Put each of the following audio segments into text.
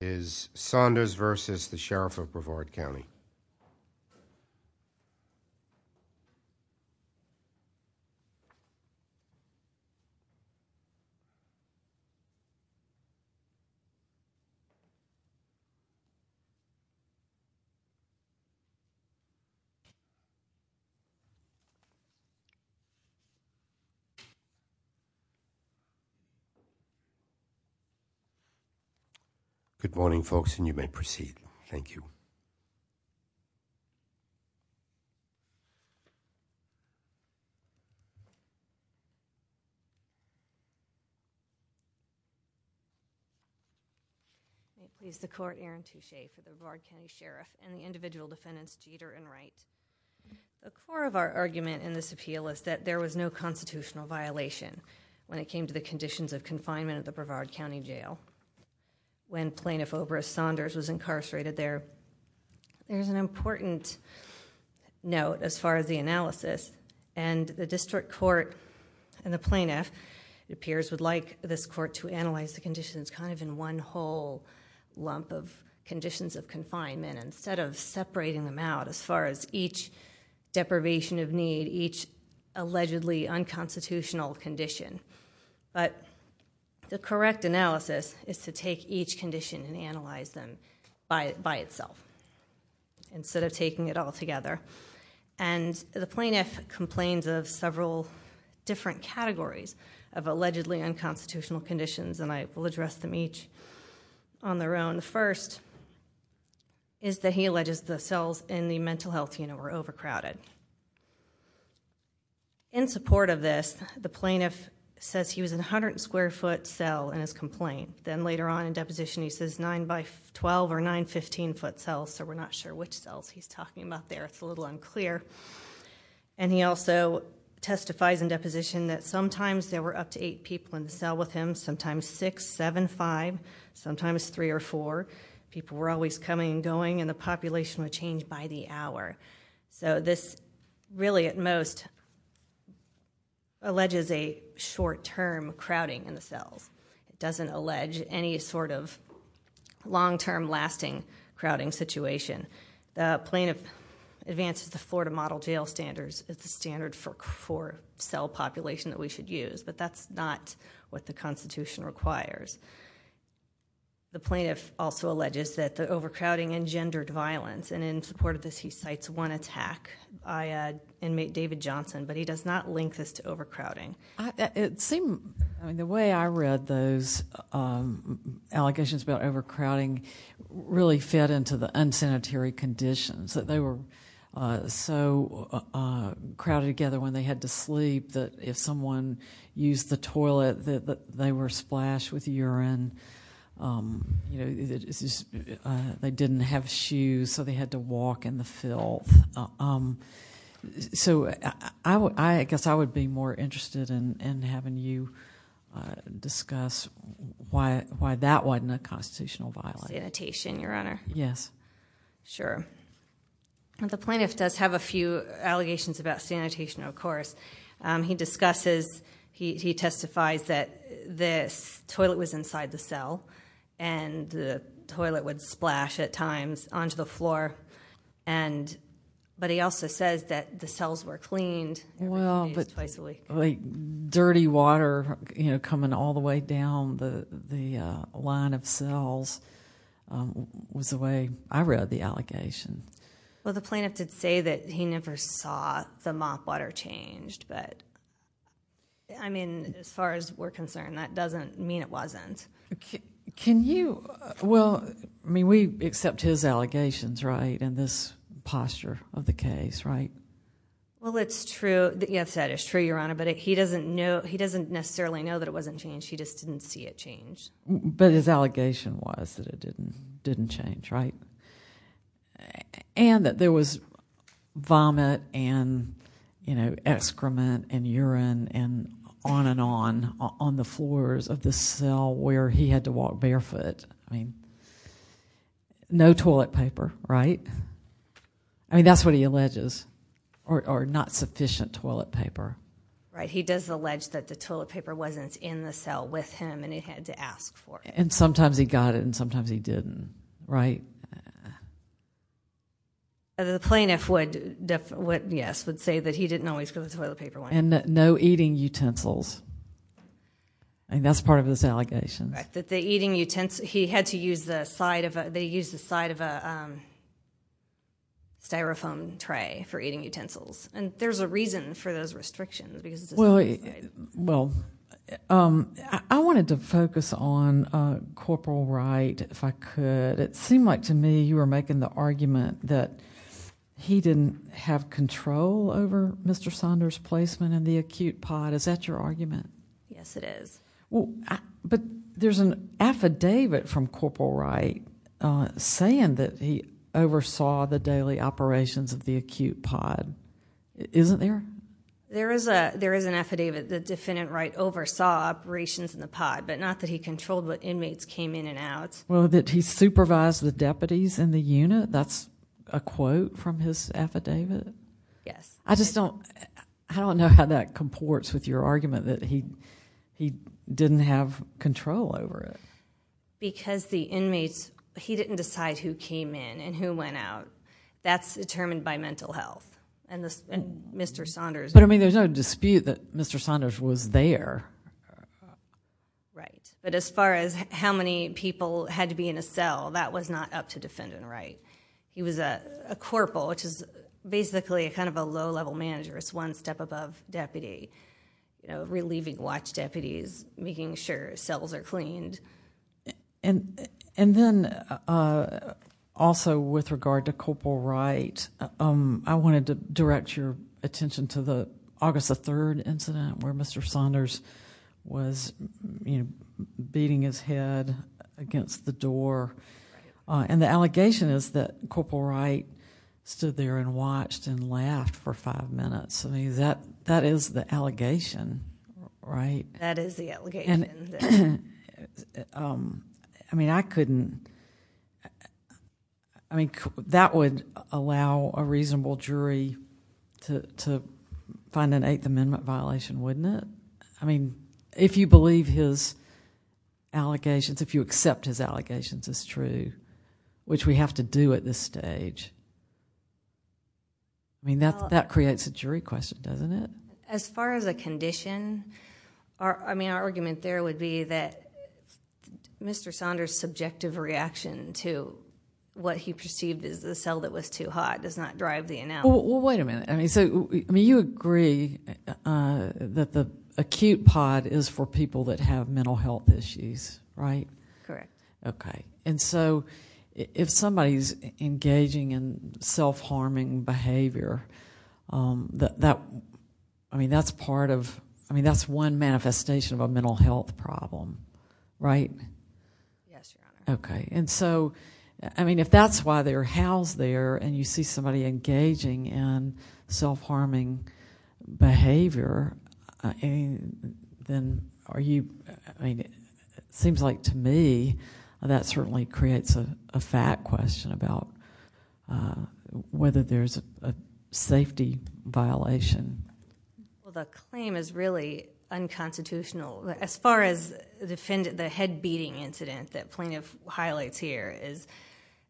is Saunders v. the Sheriff of Brevard County. Good morning, folks, and you may proceed. Thank you. Thank you. Thank you. Is the court Aaron Touche for the Brevard County Sheriff and the individual defendants Jeter and Wright? The core of our argument in this appeal is that there was no constitutional violation when it came to the conditions of confinement at the Brevard County Jail. When Plaintiff Obrist Saunders was incarcerated there, there's an important note as far as the analysis, and the district court and the plaintiff, it appears, would like this court to analyze the conditions kind of in one whole lump of conditions of confinement instead of separating them out as far as each deprivation of need, each allegedly unconstitutional condition. But the correct analysis is to take each condition and analyze them by itself instead of taking it all together. And the plaintiff complains of several different categories of allegedly unconstitutional conditions, and I will address them each on their own. The first is that he alleges the cells in the mental health unit were overcrowded. In support of this, the plaintiff says he was in a hundred square foot cell in his complaint. Then later on in deposition he says nine by twelve or nine fifteen foot cells, so we're not sure which cells he's talking about there, it's a little unclear. And he also testifies in deposition that sometimes there were up to eight people in the cell with him, sometimes six, seven, five, sometimes three or four. People were always coming and going and the population would change by the hour. So this really at most alleges a short-term crowding in the cells. It doesn't allege any sort of long-term lasting crowding situation. The plaintiff advances the Florida model jail standards as the standard for cell population that we should use, but that's not what the Constitution requires. The plaintiff also alleges that the overcrowding engendered violence, and in support of this he cites one attack by inmate David Johnson, but he does not link this to overcrowding. It seemed, the way I read those allegations about overcrowding really fit into the unsanitary conditions that they were so crowded together when they had to sleep that if someone used the toilet that they were splashed with urine, they didn't have shoes so they had to walk in the filth. So I guess I would be more interested in having you discuss why that wasn't a constitutional violation. Sanitation, Your Honor. Yes. Sure. The plaintiff does have a few allegations about sanitation, of course. He discusses, he testifies that the toilet was inside the cell and the toilet would splash at times onto the floor, but he also says that the cells were cleaned. Well, but like dirty water coming all the way down the line of cells was the way I read the allegation. Well, the plaintiff did say that he never saw the mop water changed, but I mean as far as we're concerned that doesn't mean it wasn't. Can you, well, I mean we accept his allegations, right, in this posture of the case, right? Well, it's true, yes, that is true, Your Honor, but he doesn't necessarily know that it wasn't changed. He just didn't see it changed. But his allegation was that it didn't change, right? And that there was vomit and excrement and urine and on and on on the floors of the cell where he had to walk barefoot. No toilet paper, right? I mean that's what he alleges, or not sufficient toilet paper. Right, he does allege that the toilet paper wasn't in the cell with him and he had to ask for it. And sometimes he got it and sometimes he didn't, right? The plaintiff would, yes, would say that he didn't always go to the toilet paper. And that no eating utensils. And that's part of his allegation. Right, that the eating utensils, he had to use the side of a, they used the side of a styrofoam tray for eating utensils. And there's a reason for those restrictions because it's his own side. Well, I wanted to focus on Corporal Wright if I could. It seemed like to me you were making the argument that he didn't have control over Mr. Saunders' placement in the acute pod. Is that your argument? Yes, it is. But there's an affidavit from Corporal Wright saying that he oversaw the daily operations of the acute pod. Isn't there? There is an affidavit that Defendant Wright oversaw operations in the pod, but not that he controlled what inmates came in and out. Well, that he supervised the deputies in the unit, that's a quote from his affidavit? Yes. I just don't, I don't know how that comports with your argument that he didn't have control over it. Because the inmates, he didn't decide who came in and who went out. That's determined by mental health and Mr. Saunders. But I mean there's no dispute that Mr. Saunders was there. Right, but as far as how many people had to be in a cell, that was not up to Defendant Wright. He was a corporal, which is basically kind of a low-level manager, it's one step above deputy. You know, relieving watch deputies, making sure cells are cleaned. And then also with regard to Corporal Wright, I wanted to direct your attention to the August the 3rd incident where Mr. Saunders was beating his head against the door. Right. And the allegation is that Corporal Wright stood there and watched and laughed for five minutes. I mean that is the allegation, right? That is the allegation. I mean I couldn't, I mean that would allow a reasonable jury to find an Eighth Amendment violation, wouldn't it? I mean if you believe his allegations, if you accept his allegations as true, which we have to do at this stage, I mean that creates a jury question, doesn't it? As far as a condition, I mean our argument there would be that Mr. Saunders' subjective reaction to what he perceived as the cell that was too hot does not drive the analysis. Well, wait a minute. I mean you agree that the acute pod is for people that have mental health issues, right? Correct. Okay. And so if somebody's engaging in self-harming behavior, I mean that's part of, I mean that's one manifestation of a mental health problem, right? Yes, Your Honor. Okay. And so, I mean if that's why they're housed there and you see somebody engaging in self-harming behavior, then are you, I mean it seems like to me that certainly creates a fact question about whether there's a safety violation. Well, the claim is really unconstitutional. As far as the head beating incident that plaintiff highlights here is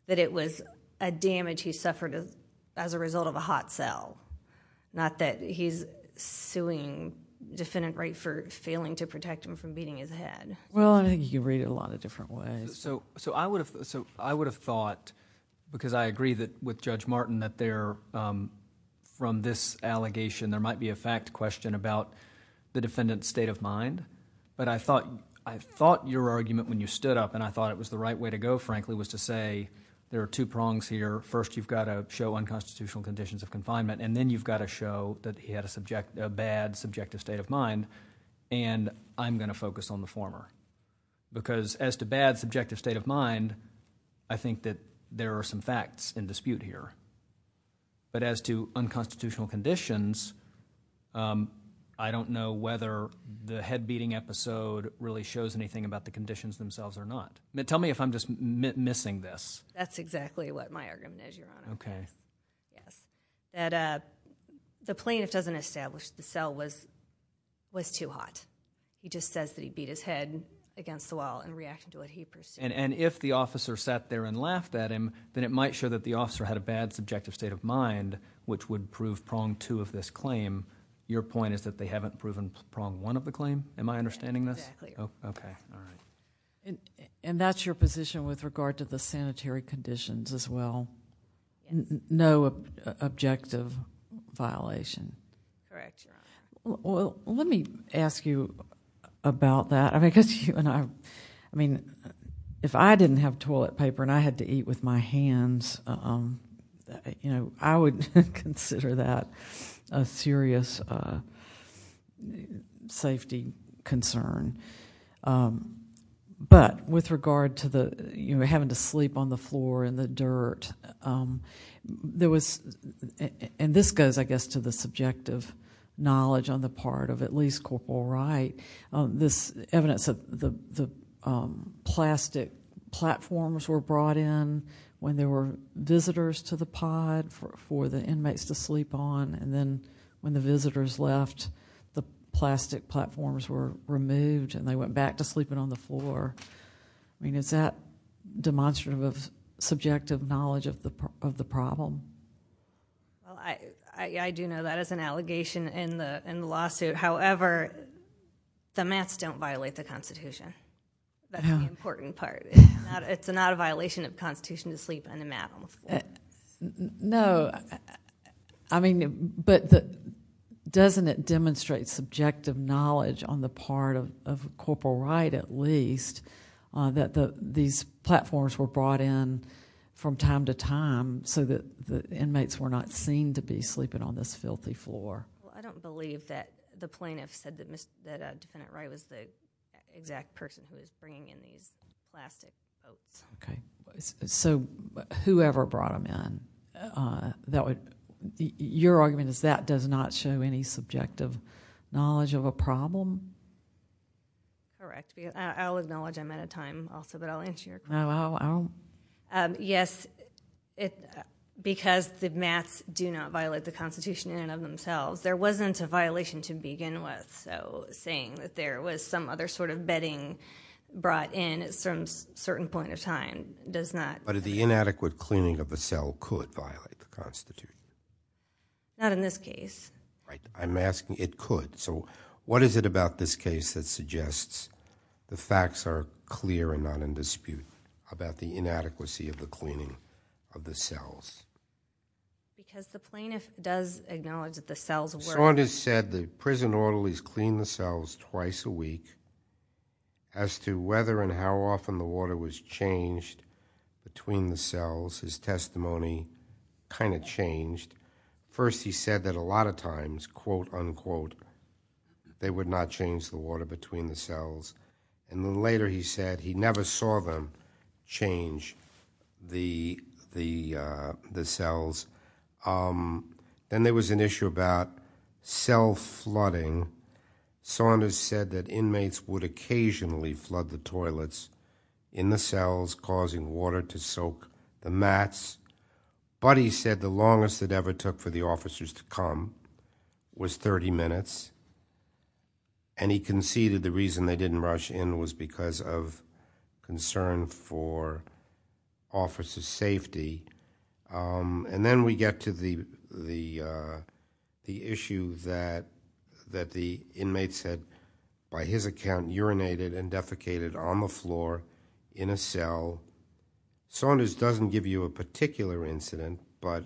that it was a damage he suffered as a result of a hot cell, not that he's suing defendant right for failing to protect him from beating his head. Well, I think you read it a lot of different ways. So I would have thought, because I agree with Judge Martin that there, from this allegation there might be a fact question about the defendant's state of mind. But I thought your argument when you stood up and I thought it was the right way to go frankly was to say there are two prongs here. First you've got to show unconstitutional conditions of confinement and then you've got to show that he had a bad subjective state of mind and I'm going to focus on the former. Because as to bad subjective state of mind, I think that there are some facts in dispute here. But as to unconstitutional conditions, I don't know whether the head beating episode really shows anything about the conditions themselves or not. Tell me if I'm just missing this. That's exactly what my argument is, Your Honor. The plaintiff doesn't establish the cell was too hot. He just says that he beat his head against the wall in reaction to what he pursued. And if the officer sat there and laughed at him, then it might show that the officer had a bad subjective state of mind, which would prove prong two of this claim. Your point is that they haven't proven prong one of the claim? Am I understanding this? Exactly. Okay. All right. And that's your position with regard to the sanitary conditions as well? No objective violation? Correct, Your Honor. Let me ask you about that. I mean, if I didn't have toilet paper and I had to eat with my hands, I would consider that a serious safety concern. But with regard to having to sleep on the floor in the dirt, and this goes, I guess, to the subjective knowledge on the part of at least Corporal Wright, this evidence of the plastic platforms were brought in when there were visitors to the pod for the inmates to sleep on. And then when the visitors left, the plastic platforms were removed and they went back to sleeping on the floor. I mean, is that demonstrative of subjective knowledge of the problem? Well, I do know that is an allegation in the lawsuit. However, the mats don't violate the Constitution. That's the important part. It's not a violation of the Constitution to sleep on the mat on the floor. No. I mean, but doesn't it demonstrate subjective knowledge on the part of Corporal Wright, at least, that these platforms were brought in from time to time so that the inmates were not seen to be sleeping on this filthy floor? Well, I don't believe that the plaintiff said that Defendant Wright was the exact person who was bringing in these plastic boats. So whoever brought them in, your argument is that does not show any subjective knowledge of a problem? Correct. I'll acknowledge I'm out of time also, but I'll answer your question. Yes, because the mats do not violate the Constitution in and of themselves, there wasn't a violation to begin with. So saying that there was some other sort of bedding brought in at some certain point of time does not. But the inadequate cleaning of a cell could violate the Constitution? Not in this case. Right. I'm asking, it could. So what is it about this case that suggests the facts are clear and not in dispute about the inadequacy of the cleaning of the cells? Because the plaintiff does acknowledge that the cells were. Saunders said the prison orderlies cleaned the cells twice a week. As to whether and how often the water was changed between the cells, his testimony kind of changed. First he said that a lot of times, quote, unquote, they would not change the water between the cells. And then later he said he never saw them change the cells. Then there was an issue about cell flooding. Saunders said that inmates would occasionally flood the toilets in the cells, causing water to soak the mats. But he said the longest it ever took for the officers to come was 30 minutes. And he conceded the reason they didn't rush in was because of concern for officers' safety. And then we get to the issue that the inmates had, by his account, urinated and defecated on the floor in a cell. Saunders doesn't give you a particular incident, but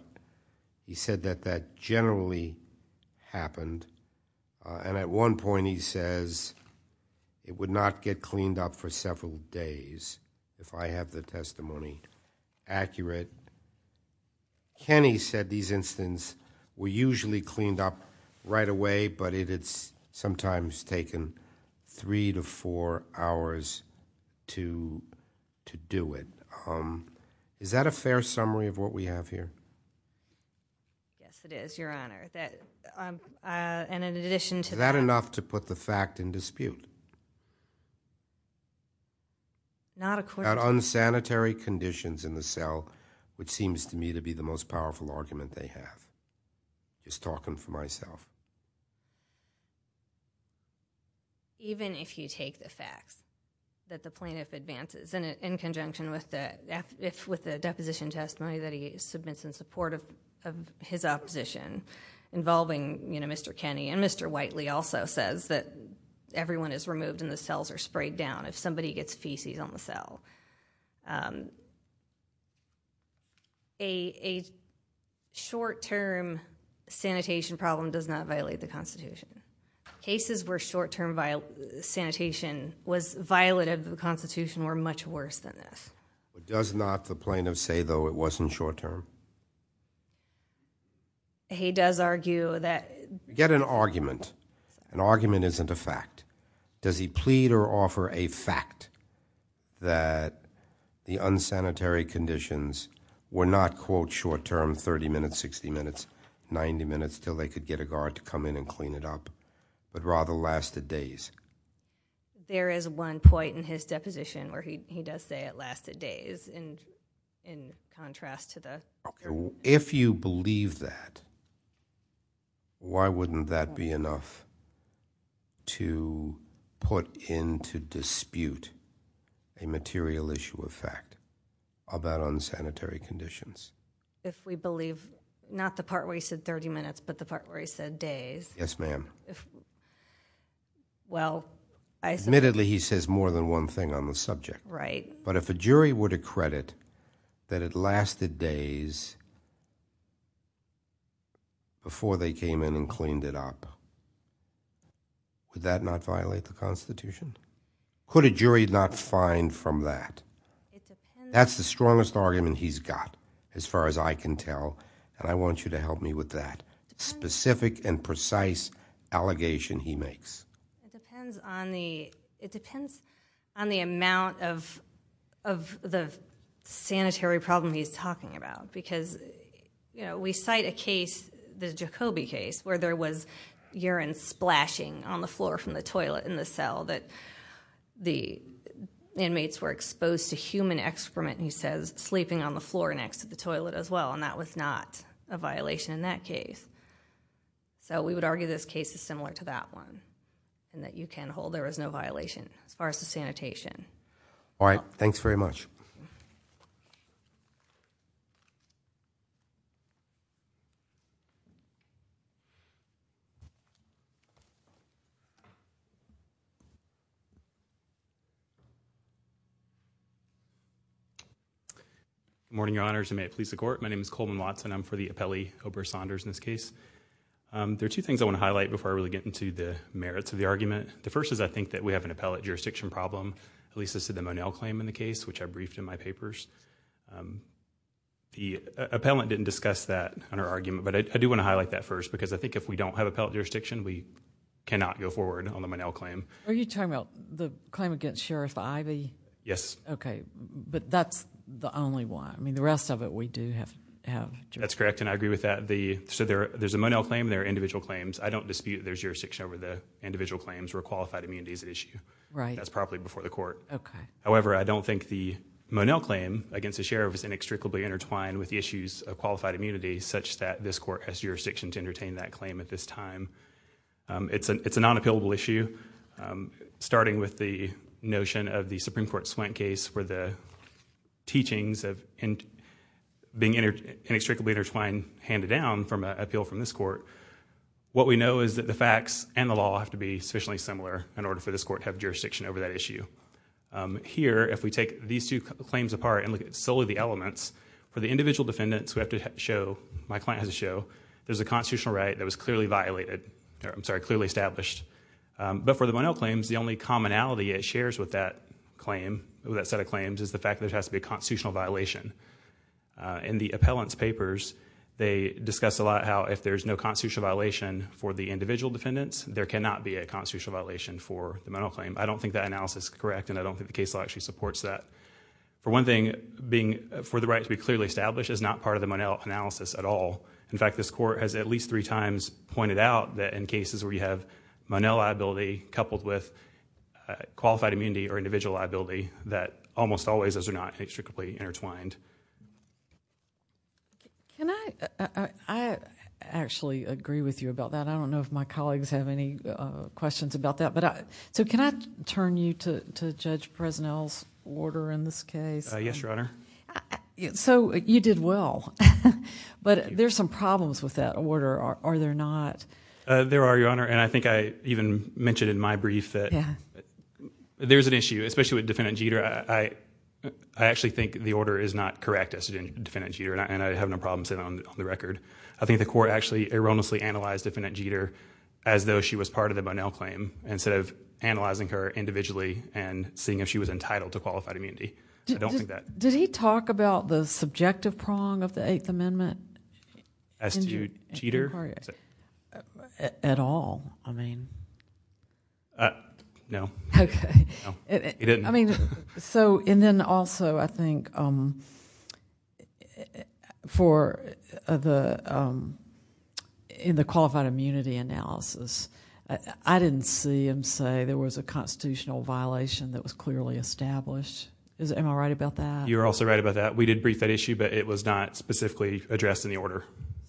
he said that that generally happened. And at one point he says, it would not get cleaned up for several days, if I have the testimony accurate. Kenney said these incidents were usually cleaned up right away, but it had sometimes taken three to four hours to do it. Is that a fair summary of what we have here? Yes, it is, Your Honor. And in addition to that... Is that enough to put the fact in dispute? Not according to... About unsanitary conditions in the cell, which seems to me to be the most powerful argument they have. I'm just talking for myself. Even if you take the facts that the plaintiff advances, in conjunction with the deposition testimony that he submits in support of his opposition, involving Mr. Kenney, and Mr. Whiteley also says that everyone is removed and the cells are sprayed down if somebody gets feces on the cell. A short-term sanitation problem does not violate the Constitution. Cases where short-term sanitation was violated by the Constitution were much worse than this. Does not the plaintiff say, though, it wasn't short-term? He does argue that... Get an argument. An argument isn't a fact. Does he plead or offer a fact that the unsanitary conditions were not, quote, short-term, 30 minutes, 60 minutes, 90 minutes, till they could get a guard to come in and clean it up, but rather lasted days? There is one point in his deposition where he does say it lasted days, in contrast to the... If you believe that, why wouldn't that be enough to put into dispute a material issue of fact about unsanitary conditions? If we believe, not the part where he said 30 minutes, but the part where he said days... Yes, ma'am. Admittedly, he says more than one thing on the subject, but if a jury were to credit that it lasted days before they came in and cleaned it up, would that not violate the Constitution? Could a jury not find from that? That's the strongest argument he's got, as far as I can tell, and I want you to help me with that. It's a specific and precise allegation he makes. It depends on the amount of the sanitary problem he's talking about, because we cite a case, the Jacobi case, where there was urine splashing on the floor from the toilet in the cell that the inmates were exposed to human excrement, he says, sleeping on the floor next to the toilet as well, and that was not a violation in that case. We would argue this case is similar to that one, and that you can hold there was no violation as far as the sanitation. All right. Thanks very much. Good morning, Your Honors, and may it please the Court. My name is Coleman Watson. I'm for the appellee, Oprah Saunders, in this case. There are two things I want to highlight before I really get into the merits of the argument. The first is I think that we have an appellate jurisdiction problem, at least as to the Monel claim in the case, which I briefed in my papers. The appellant didn't discuss that in her argument, but I do want to highlight that first, because I think if we don't have appellate jurisdiction, we cannot go forward on the Monel claim. Are you talking about the claim against Sheriff Ivey? Yes. Okay. But that's the only one. I mean, the rest of it, we do have jurisdiction. That's correct, and I agree with that. There's a Monel claim. There are individual claims. I don't dispute there's jurisdiction over the individual claims where qualified immunity is at issue. Right. That's probably before the Court. Okay. However, I don't think the Monel claim against the Sheriff is inextricably intertwined with the issues of qualified immunity, such that this Court has jurisdiction to entertain that claim at this time. It's a non-appellable issue, starting with the notion of the Supreme Court Swent case, where the teachings of being inextricably intertwined handed down from an appeal from this Court. What we know is that the facts and the law have to be sufficiently similar in order for this Court to have jurisdiction over that issue. Here, if we take these two claims apart and look at solely the elements, for the individual defendants, we have to show, my client has to show, there's a constitutional right that was clearly established. For the Monel claims, the only commonality it shares with that set of claims is the fact that there has to be a constitutional violation. In the appellant's papers, they discuss a lot how if there's no constitutional violation for the individual defendants, there cannot be a constitutional violation for the Monel claim. I don't think that analysis is correct, and I don't think the case law actually supports that. For one thing, being for the right to be clearly established is not part of the Monel analysis at all. In fact, this Court has at least three times pointed out that in cases where you have Monel liability coupled with qualified immunity or individual liability, that almost always those are not intricately intertwined. I actually agree with you about that. I don't know if my colleagues have any questions about that. Can I turn you to Judge Presnell's order in this case? Yes, Your Honor. You did well, but there's some problems with that order, are there not? There are, Your Honor, and I think I even mentioned in my brief that there's an issue, especially with Defendant Jeter. I actually think the order is not correct as to Defendant Jeter, and I have no problem saying that on the record. I think the Court actually erroneously analyzed Defendant Jeter as though she was part of the Monel claim instead of analyzing her individually and seeing if she was entitled to qualified immunity. I don't think that... Did he talk about the subjective prong of the Eighth Amendment? As to Jeter? At all. I mean... No. Okay. No, he didn't. I mean, so... and then also, I think for the... in the qualified immunity analysis, I didn't see him say there was a constitutional violation that was clearly established. Am I right about that? You're also right about that. We did brief that issue, but it was not specifically addressed in the order.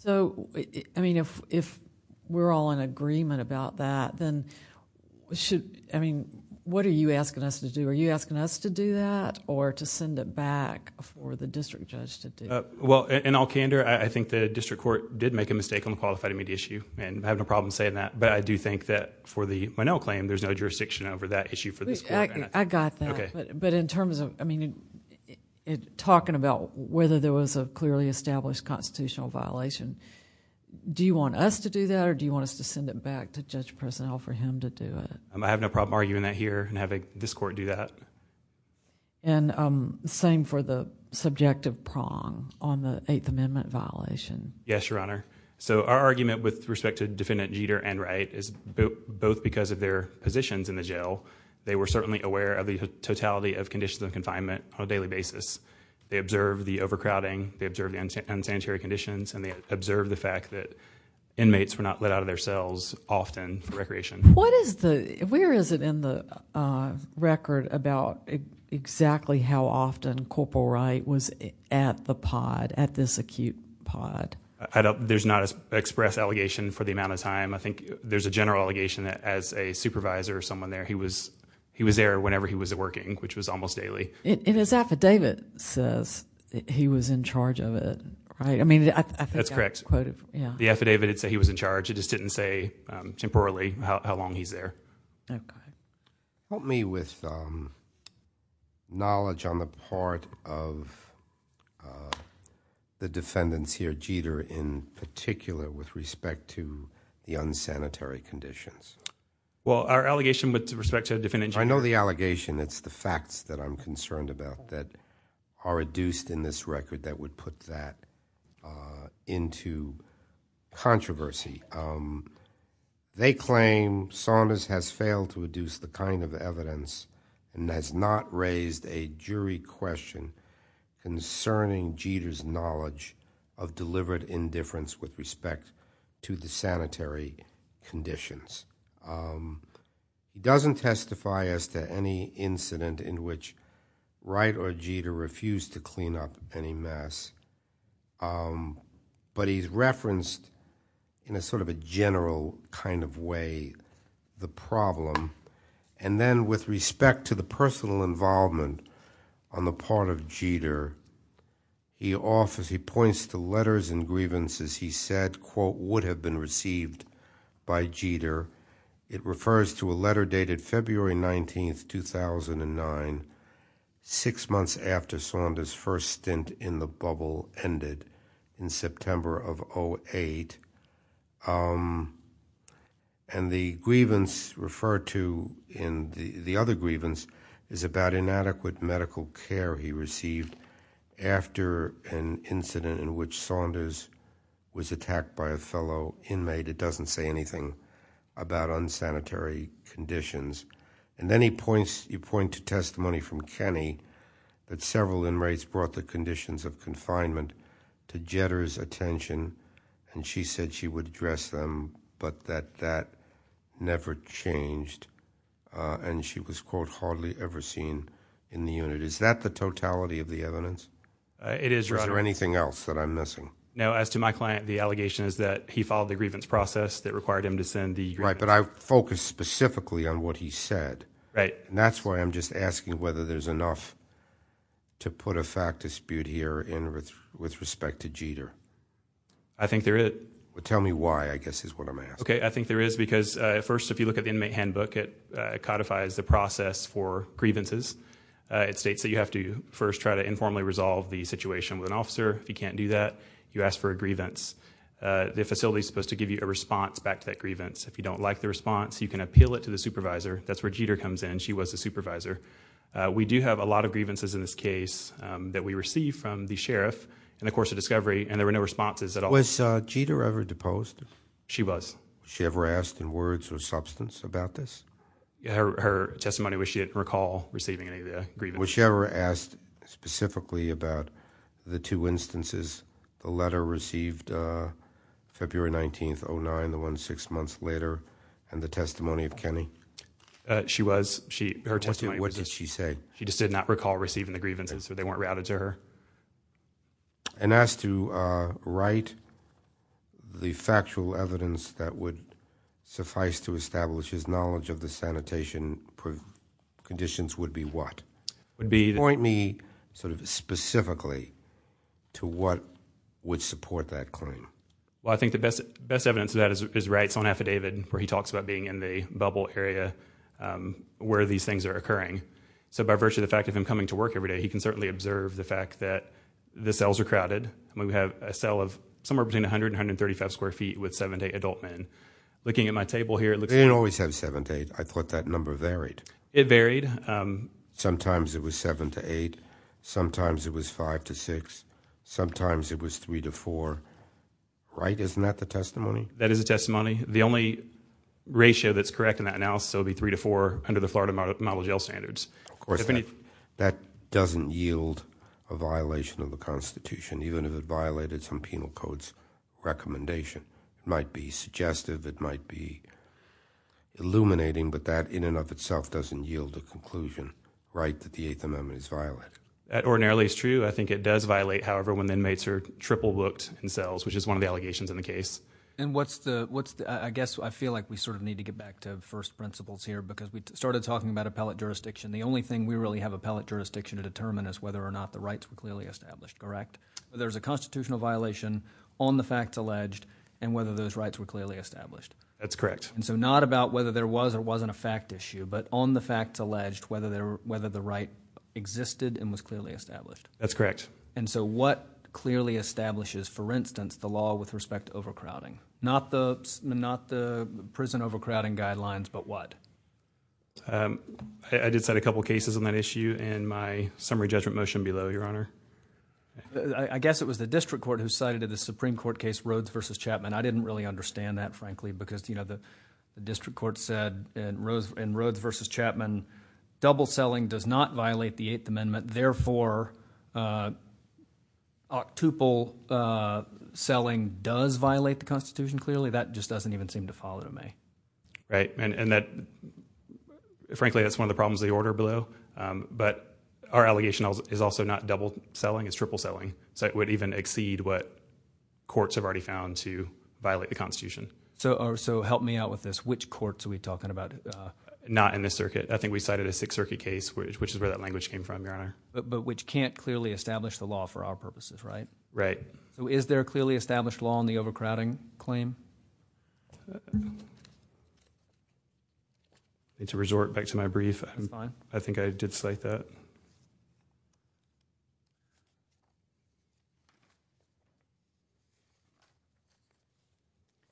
I mean, if we're all in agreement about that, then should... I mean, what are you asking us to do? Are you asking us to do that or to send it back for the district judge to do? Well, in all candor, I think the district court did make a mistake on the qualified immunity issue, and I have no problem saying that, but I do think that for the Monell claim, there's no jurisdiction over that issue for this court. I got that. Okay. But in terms of... I mean, talking about whether there was a clearly established constitutional violation, do you want us to do that or do you want us to send it back to Judge Personnel for him to do it? I have no problem arguing that here and having this court do that. And same for the subjective prong on the Eighth Amendment violation. Yes, Your Honor. So, our argument with respect to Defendant Jeter and Wright is both because of their positions in the jail, they were certainly aware of the totality of conditions of confinement on a daily basis. They observed the overcrowding, they observed the unsanitary conditions, and they observed the fact that inmates were not let out of their cells often for recreation. What is the... where is it in the record about exactly how often Corporal Wright was at the pod, at this acute pod? I don't... there's not an express allegation for the amount of time. I think there's a general allegation that as a supervisor or someone there, he was there whenever he was working, which was almost daily. And his affidavit says that he was in charge of it, right? I mean... That's correct. Yeah. The affidavit did say he was in charge. It just didn't say temporarily how long he's there. Okay. Help me with knowledge on the part of the defendants here, Jeter in particular, with respect to the unsanitary conditions. Well, our allegation with respect to the defendants... I know the allegation. It's the facts that I'm concerned about that are reduced in this record that would put that into controversy. They claim Saunders has failed to reduce the kind of evidence and has not raised a jury question concerning Jeter's knowledge of delivered indifference with respect to the sanitary conditions. He doesn't testify as to any incident in which Wright or Jeter refused to clean up any but he's referenced in a sort of a general kind of way the problem. And then with respect to the personal involvement on the part of Jeter, he offers... he points to letters and grievances he said, quote, would have been received by Jeter. It refers to a letter dated February 19th, 2009, six months after Saunders' first stint in the bubble ended in September of 2008. And the grievance referred to in the other grievance is about inadequate medical care he received after an incident in which Saunders was attacked by a fellow inmate. It doesn't say anything about unsanitary conditions. And then he points... you point to testimony from Kenny that several inmates brought the conditions of confinement to Jeter's attention and she said she would address them but that that never changed and she was, quote, hardly ever seen in the unit. Is that the totality of the evidence? It is, Your Honor. Is there anything else that I'm missing? No, as to my client, the allegation is that he followed the grievance process that required him to send the grievance... Right, but I focused specifically on what he said. Right. And that's why I'm just asking whether there's enough to put a fact dispute here with respect to Jeter. I think there is. Well, tell me why, I guess, is what I'm asking. Okay, I think there is because, at first, if you look at the inmate handbook, it codifies the process for grievances. It states that you have to first try to informally resolve the situation with an officer. If you can't do that, you ask for a grievance. The facility is supposed to give you a response back to that grievance. If you don't like the response, you can appeal it to the supervisor. That's where Jeter comes in. She was the supervisor. We do have a lot of grievances in this case that we received from the sheriff in the course of discovery, and there were no responses at all. Was Jeter ever deposed? She was. Was she ever asked in words or substance about this? Her testimony was she didn't recall receiving any of the grievances. Was she ever asked specifically about the two instances, the letter received February 19th, 2009, the one six months later, and the testimony of Kenny? She was. What did she say? She just did not recall receiving the grievances. They weren't routed to her. And as to Wright, the factual evidence that would suffice to establish his knowledge of the sanitation conditions would be what? Point me sort of specifically to what would support that claim. Well, I think the best evidence of that is Wright's own affidavit where he talks about being in the bubble area where these things are occurring. So by virtue of the fact of him coming to work every day, he can certainly observe the fact that the cells are crowded. We have a cell of somewhere between 100 and 135 square feet with seven to eight adult men. Looking at my table here, it looks like. They didn't always have seven to eight. I thought that number varied. It varied. Sometimes it was seven to eight. Sometimes it was five to six. Sometimes it was three to four. Wright, isn't that the testimony? That is the testimony. The only ratio that's correct in that analysis would be three to four under the Florida model jail standards. Of course, that doesn't yield a violation of the Constitution, even if it violated some penal code's recommendation. It might be suggestive. It might be illuminating. But that in and of itself doesn't yield a conclusion, Wright, that the Eighth Amendment is violated. That ordinarily is true. I think it does violate, however, when inmates are triple booked in cells, which is one of the allegations in the case. And I guess I feel like we sort of need to get back to first principles here because we started talking about appellate jurisdiction. The only thing we really have appellate jurisdiction to determine is whether or not the rights were clearly established, correct? There's a constitutional violation on the facts alleged and whether those rights were clearly established. That's correct. And so not about whether there was or wasn't a fact issue, but on the facts alleged, whether the right existed and was clearly established. That's correct. And so what clearly establishes, for instance, the law with respect to overcrowding? Not the prison overcrowding guidelines, but what? I did cite a couple cases on that issue in my summary judgment motion below, Your Honor. I guess it was the District Court who cited in the Supreme Court case Rhodes v. Chapman. I didn't really understand that, frankly, because the District Court said in Rhodes v. Chapman, double-selling does not violate the Eighth Amendment. Therefore, octuple selling does violate the Constitution. Clearly, that just doesn't even seem to follow to me. Right. And frankly, that's one of the problems of the order below. But our allegation is also not double-selling. It's triple-selling. So it would even exceed what courts have already found to violate the Constitution. So help me out with this. Which courts are we talking about? Not in this circuit. I think we cited a Sixth Circuit case, which is where that language came from, Your Honor. But which can't clearly establish the law for our purposes, right? Right. So is there a clearly established law on the overcrowding claim? I need to resort back to my brief. That's fine. I think I did cite that.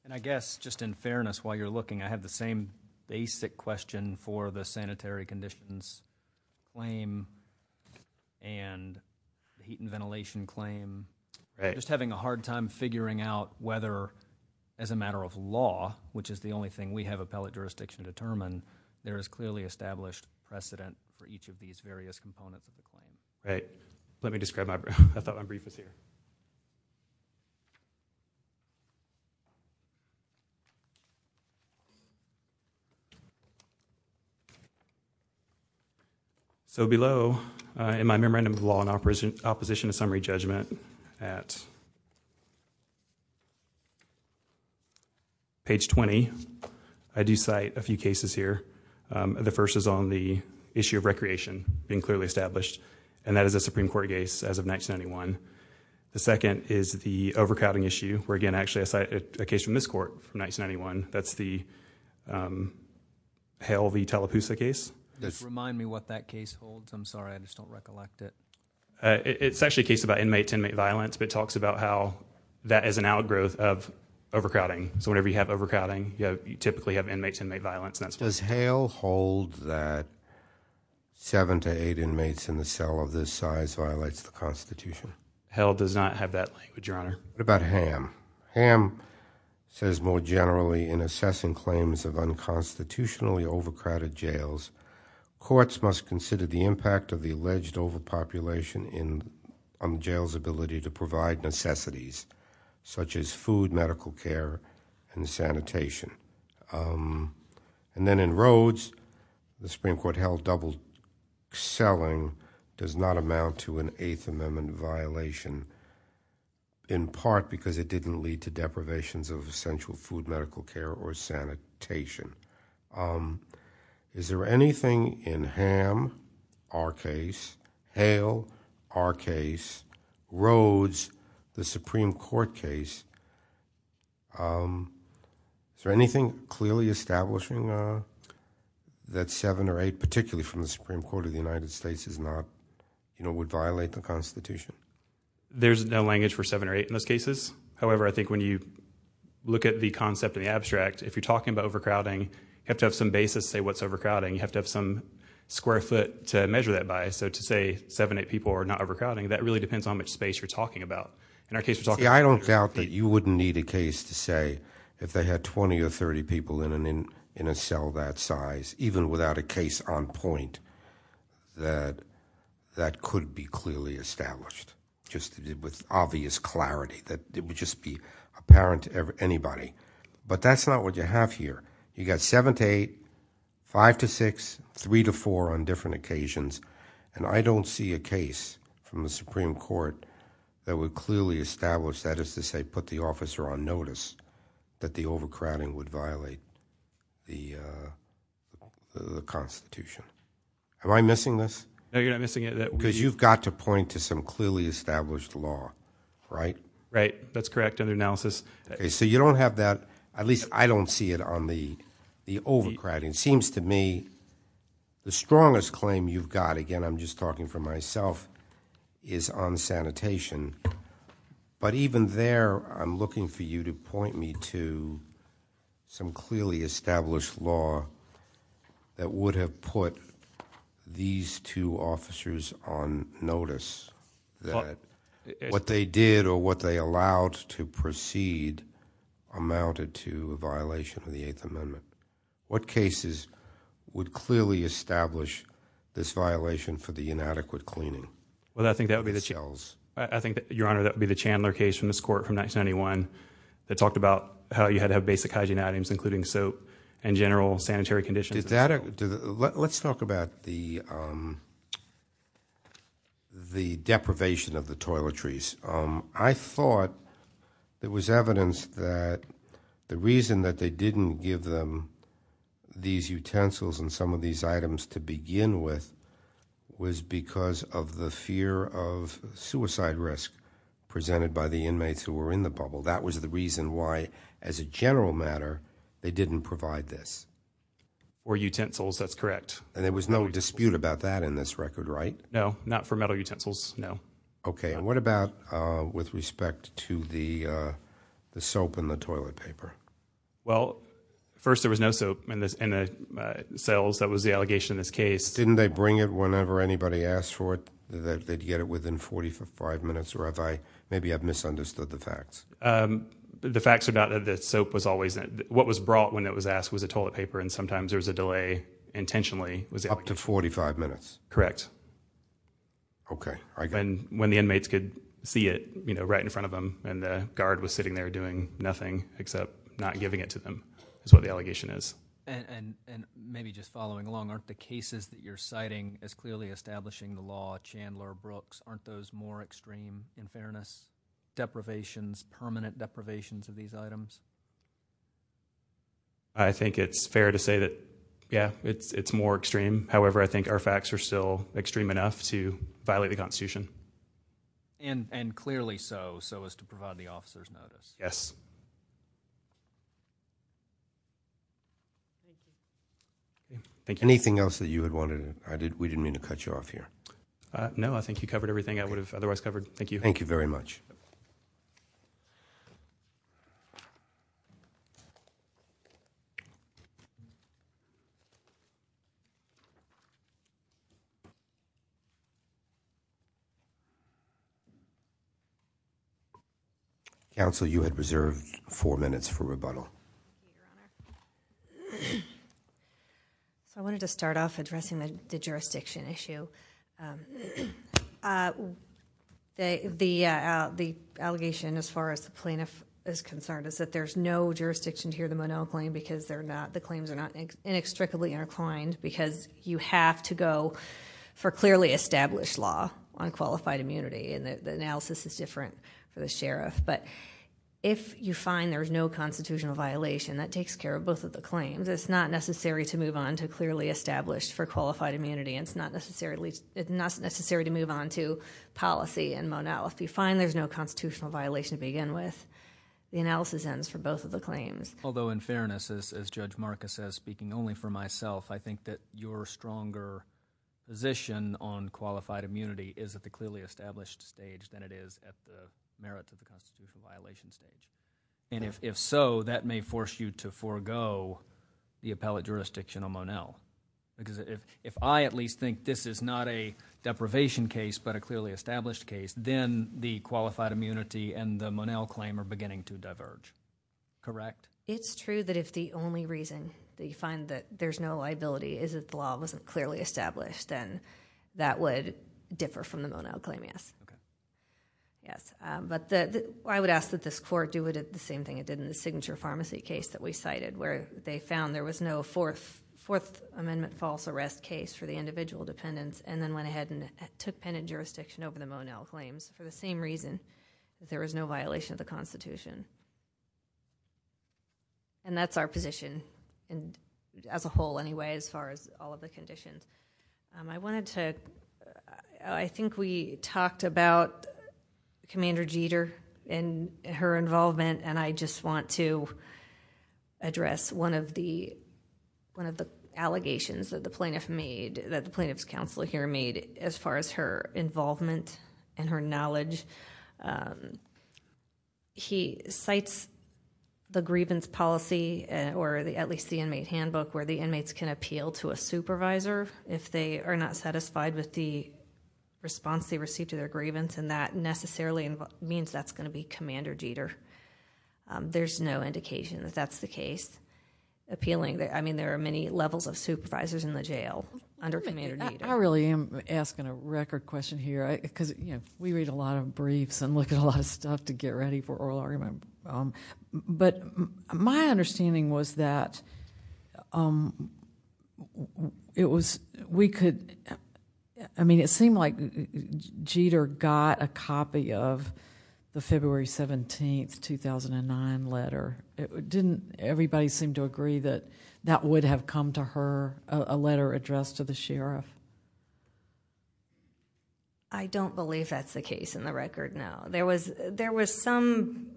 And I guess, just in fairness, while you're looking, I have the same basic question for the sanitary conditions claim and the heat and ventilation claim. Right. Just having a hard time figuring out whether, as a matter of law, which is the only thing we have appellate jurisdiction determine, there is clearly established precedent for each of these various components of the claim. Right. Let me describe my brief. I thought my brief was here. So below, in my Memorandum of Law in Opposition to Summary Judgment at page 20, I do cite a few cases here. The first is on the issue of recreation being clearly established, and that is a Supreme Court case as of 1991. The second is the overcrowding issue, where, again, actually I cite a case from this court from 1991. That's the Hale v. Tallapoosa case. Just remind me what that case holds. I'm sorry, I just don't recollect it. It's actually a case about inmate-to-inmate violence, but it talks about how that is an outgrowth of overcrowding. So whenever you have overcrowding, you typically have inmate-to-inmate violence. Does Hale hold that seven to eight inmates in the cell of this size violates the Constitution? Hale does not have that language, Your Honor. What about Ham? Ham says, more generally, in assessing claims of unconstitutionally overcrowded jails, courts must consider the impact of the alleged overpopulation in a jail's ability to provide necessities, such as food, medical care, and sanitation. And then in Rhodes, the Supreme Court held double-selling does not amount to an Eighth Amendment violation, in part because it didn't lead to deprivations of essential food, medical care, or sanitation. Is there anything in Ham, our case, Hale, our case, Rhodes, the Supreme Court case, is there anything clearly establishing that seven or eight, particularly from the Supreme Court of the United States, would violate the Constitution? There's no language for seven or eight in those cases. However, I think when you look at the concept in the abstract, if you're talking about overcrowding, you have to have some basis to say what's overcrowding. You have to have some square foot to measure that bias. So to say seven or eight people are not overcrowding, that really depends on which space you're talking about. I don't doubt that you wouldn't need a case to say if they had 20 or 30 people in a cell that size, even without a case on point, that that could be clearly established, just with obvious clarity, that it would just be apparent to anybody. But that's not what you have here. You've got seven to eight, five to six, three to four on different occasions, and I don't see a case from the Supreme Court that would clearly establish that, as to say put the officer on notice that the overcrowding would violate the Constitution. Am I missing this? No, you're not missing it. Because you've got to point to some clearly established law, right? Right. That's correct under analysis. So you don't have that. At least I don't see it on the overcrowding. It seems to me the strongest claim you've got, again I'm just talking for myself, is on sanitation. But even there, I'm looking for you to point me to some clearly established law that would have put these two officers on notice that what they did or what they allowed to proceed amounted to a violation of the Eighth Amendment. What cases would clearly establish this violation for the inadequate cleaning? Well, I think that would be the Chandler case from this court from 1991 that talked about how you had to have basic hygiene items including soap and general sanitary conditions. Let's talk about the deprivation of the toiletries. I thought there was evidence that the reason that they didn't give them these utensils and some of these items to begin with was because of the fear of suicide risk presented by the inmates who were in the bubble. That was the reason why, as a general matter, they didn't provide this. Or utensils, that's correct. And there was no dispute about that in this record, right? No, not for metal utensils, no. Okay, and what about with respect to the soap and the toilet paper? Well, first there was no soap in the cells. That was the allegation in this case. Didn't they bring it whenever anybody asked for it that they'd get it within 45 minutes? Or maybe I've misunderstood the facts. The facts are not that the soap was always there. What was brought when it was asked was a toilet paper and sometimes there was a delay intentionally. Up to 45 minutes? Correct. Okay. When the inmates could see it right in front of them and the guard was sitting there doing nothing except not giving it to them is what the allegation is. And maybe just following along, aren't the cases that you're citing as clearly establishing the law, Chandler, Brooks, aren't those more extreme in fairness? Deprivations, permanent deprivations of these items? I think it's fair to say that, yeah, it's more extreme. However, I think our facts are still extreme enough to violate the Constitution. And clearly so, so as to provide the officers notice. Yes. Anything else that you had wanted to add? We didn't mean to cut you off here. No, I think you covered everything I would have otherwise covered. Thank you. Thank you very much. Thank you. Counsel, you had reserved four minutes for rebuttal. Thank you, Your Honor. I wanted to start off addressing the jurisdiction issue. The allegation as far as the plaintiff is concerned is that there's no jurisdiction to hear the Moneau claim because the claims are not inextricably intertwined because you have to go for clearly established law on qualified immunity. And the analysis is different for the sheriff. But if you find there's no constitutional violation, that takes care of both of the claims. It's not necessary to move on to clearly established for qualified immunity. It's not necessary to move on to policy in Moneau. If you find there's no constitutional violation to begin with, the analysis ends for both of the claims. Although in fairness, as Judge Marcus says, and I'm speaking only for myself, I think that your stronger position on qualified immunity is at the clearly established stage than it is at the merits of the constitutional violation stage. And if so, that may force you to forego the appellate jurisdiction on Moneau. Because if I at least think this is not a deprivation case but a clearly established case, then the qualified immunity and the Moneau claim are beginning to diverge. Correct? It's true that if the only reason that you find that there's no liability is that the law wasn't clearly established, then that would differ from the Moneau claim, yes. But I would ask that this court do the same thing it did in the Signature Pharmacy case that we cited where they found there was no Fourth Amendment false arrest case for the individual dependents, and then went ahead and took penitent jurisdiction over the Moneau claims for the same reason, that there was no violation of the Constitution. And that's our position as a whole anyway as far as all of the conditions. I think we talked about Commander Jeter and her involvement, and I just want to address one of the allegations that the plaintiff's counsel here made as far as her involvement and her knowledge. He cites the grievance policy, or at least the inmate handbook, where the inmates can appeal to a supervisor if they are not satisfied with the response they received to their grievance, and that necessarily means that's going to be Commander Jeter. There's no indication that that's the case. I mean, there are many levels of supervisors in the jail under Commander Jeter. I really am asking a record question here, because we read a lot of briefs and look at a lot of stuff to get ready for oral argument. But my understanding was that it seemed like Jeter got a copy of the February 17, 2009, letter. Didn't everybody seem to agree that that would have come to her, a letter addressed to the sheriff? I don't believe that's the case in the record, no. There was some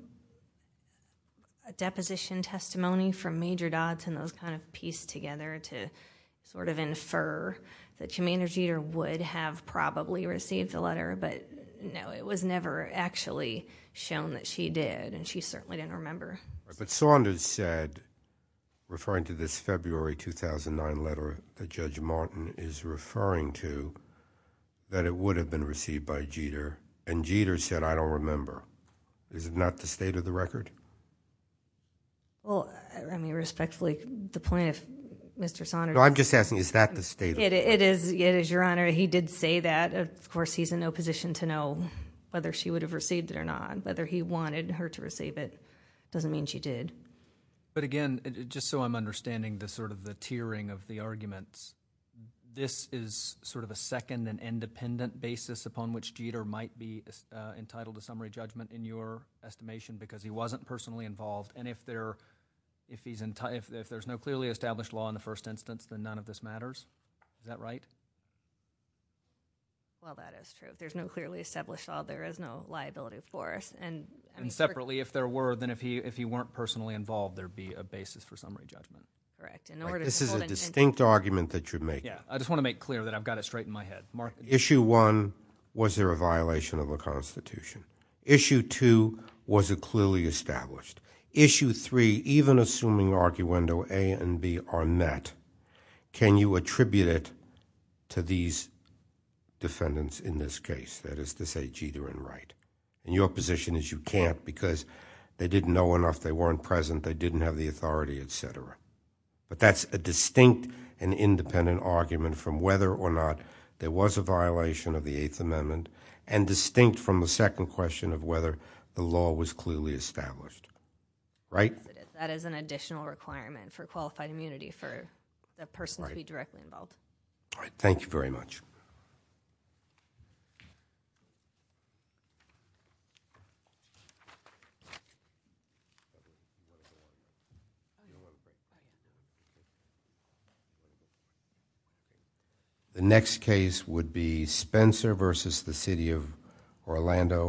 deposition testimony from Major Dodds and those kind of pieced together to sort of infer that Commander Jeter would have probably received the letter, but no, it was never actually shown that she did, and she certainly didn't remember. But Saunders said, referring to this February 2009 letter that Judge Martin is referring to, that it would have been received by Jeter, and Jeter said, I don't remember. Is it not the state of the record? Well, I mean, respectfully, the point of Mr. Saunders... No, I'm just asking, is that the state of the record? It is, Your Honor. He did say that. Of course, he's in no position to know whether she would have received it or not, and whether he wanted her to receive it doesn't mean she did. But again, just so I'm understanding the tiering of the arguments, this is sort of a second and independent basis upon which Jeter might be entitled to summary judgment, in your estimation, because he wasn't personally involved, and if there's no clearly established law in the first instance, then none of this matters? Is that right? Well, that is true. If there's no clearly established law, there is no liability for us, and... And separately, if there were, then if he weren't personally involved, there'd be a basis for summary judgment. Correct. This is a distinct argument that you're making. Yeah, I just want to make clear that I've got it straight in my head. Mark... Issue one, was there a violation of a constitution? Issue two, was it clearly established? Issue three, even assuming arguendo A and B are met, can you attribute it to these defendants in this case? That is to say, Jeter and Wright. And your position is you can't because they didn't know enough, they weren't present, they didn't have the authority, et cetera. But that's a distinct and independent argument from whether or not there was a violation of the Eighth Amendment and distinct from the second question of whether the law was clearly established. Right? That is an additional requirement for qualified immunity for the person to be directly involved. All right. Thank you very much. The next case would be Spencer versus the City of Orlando.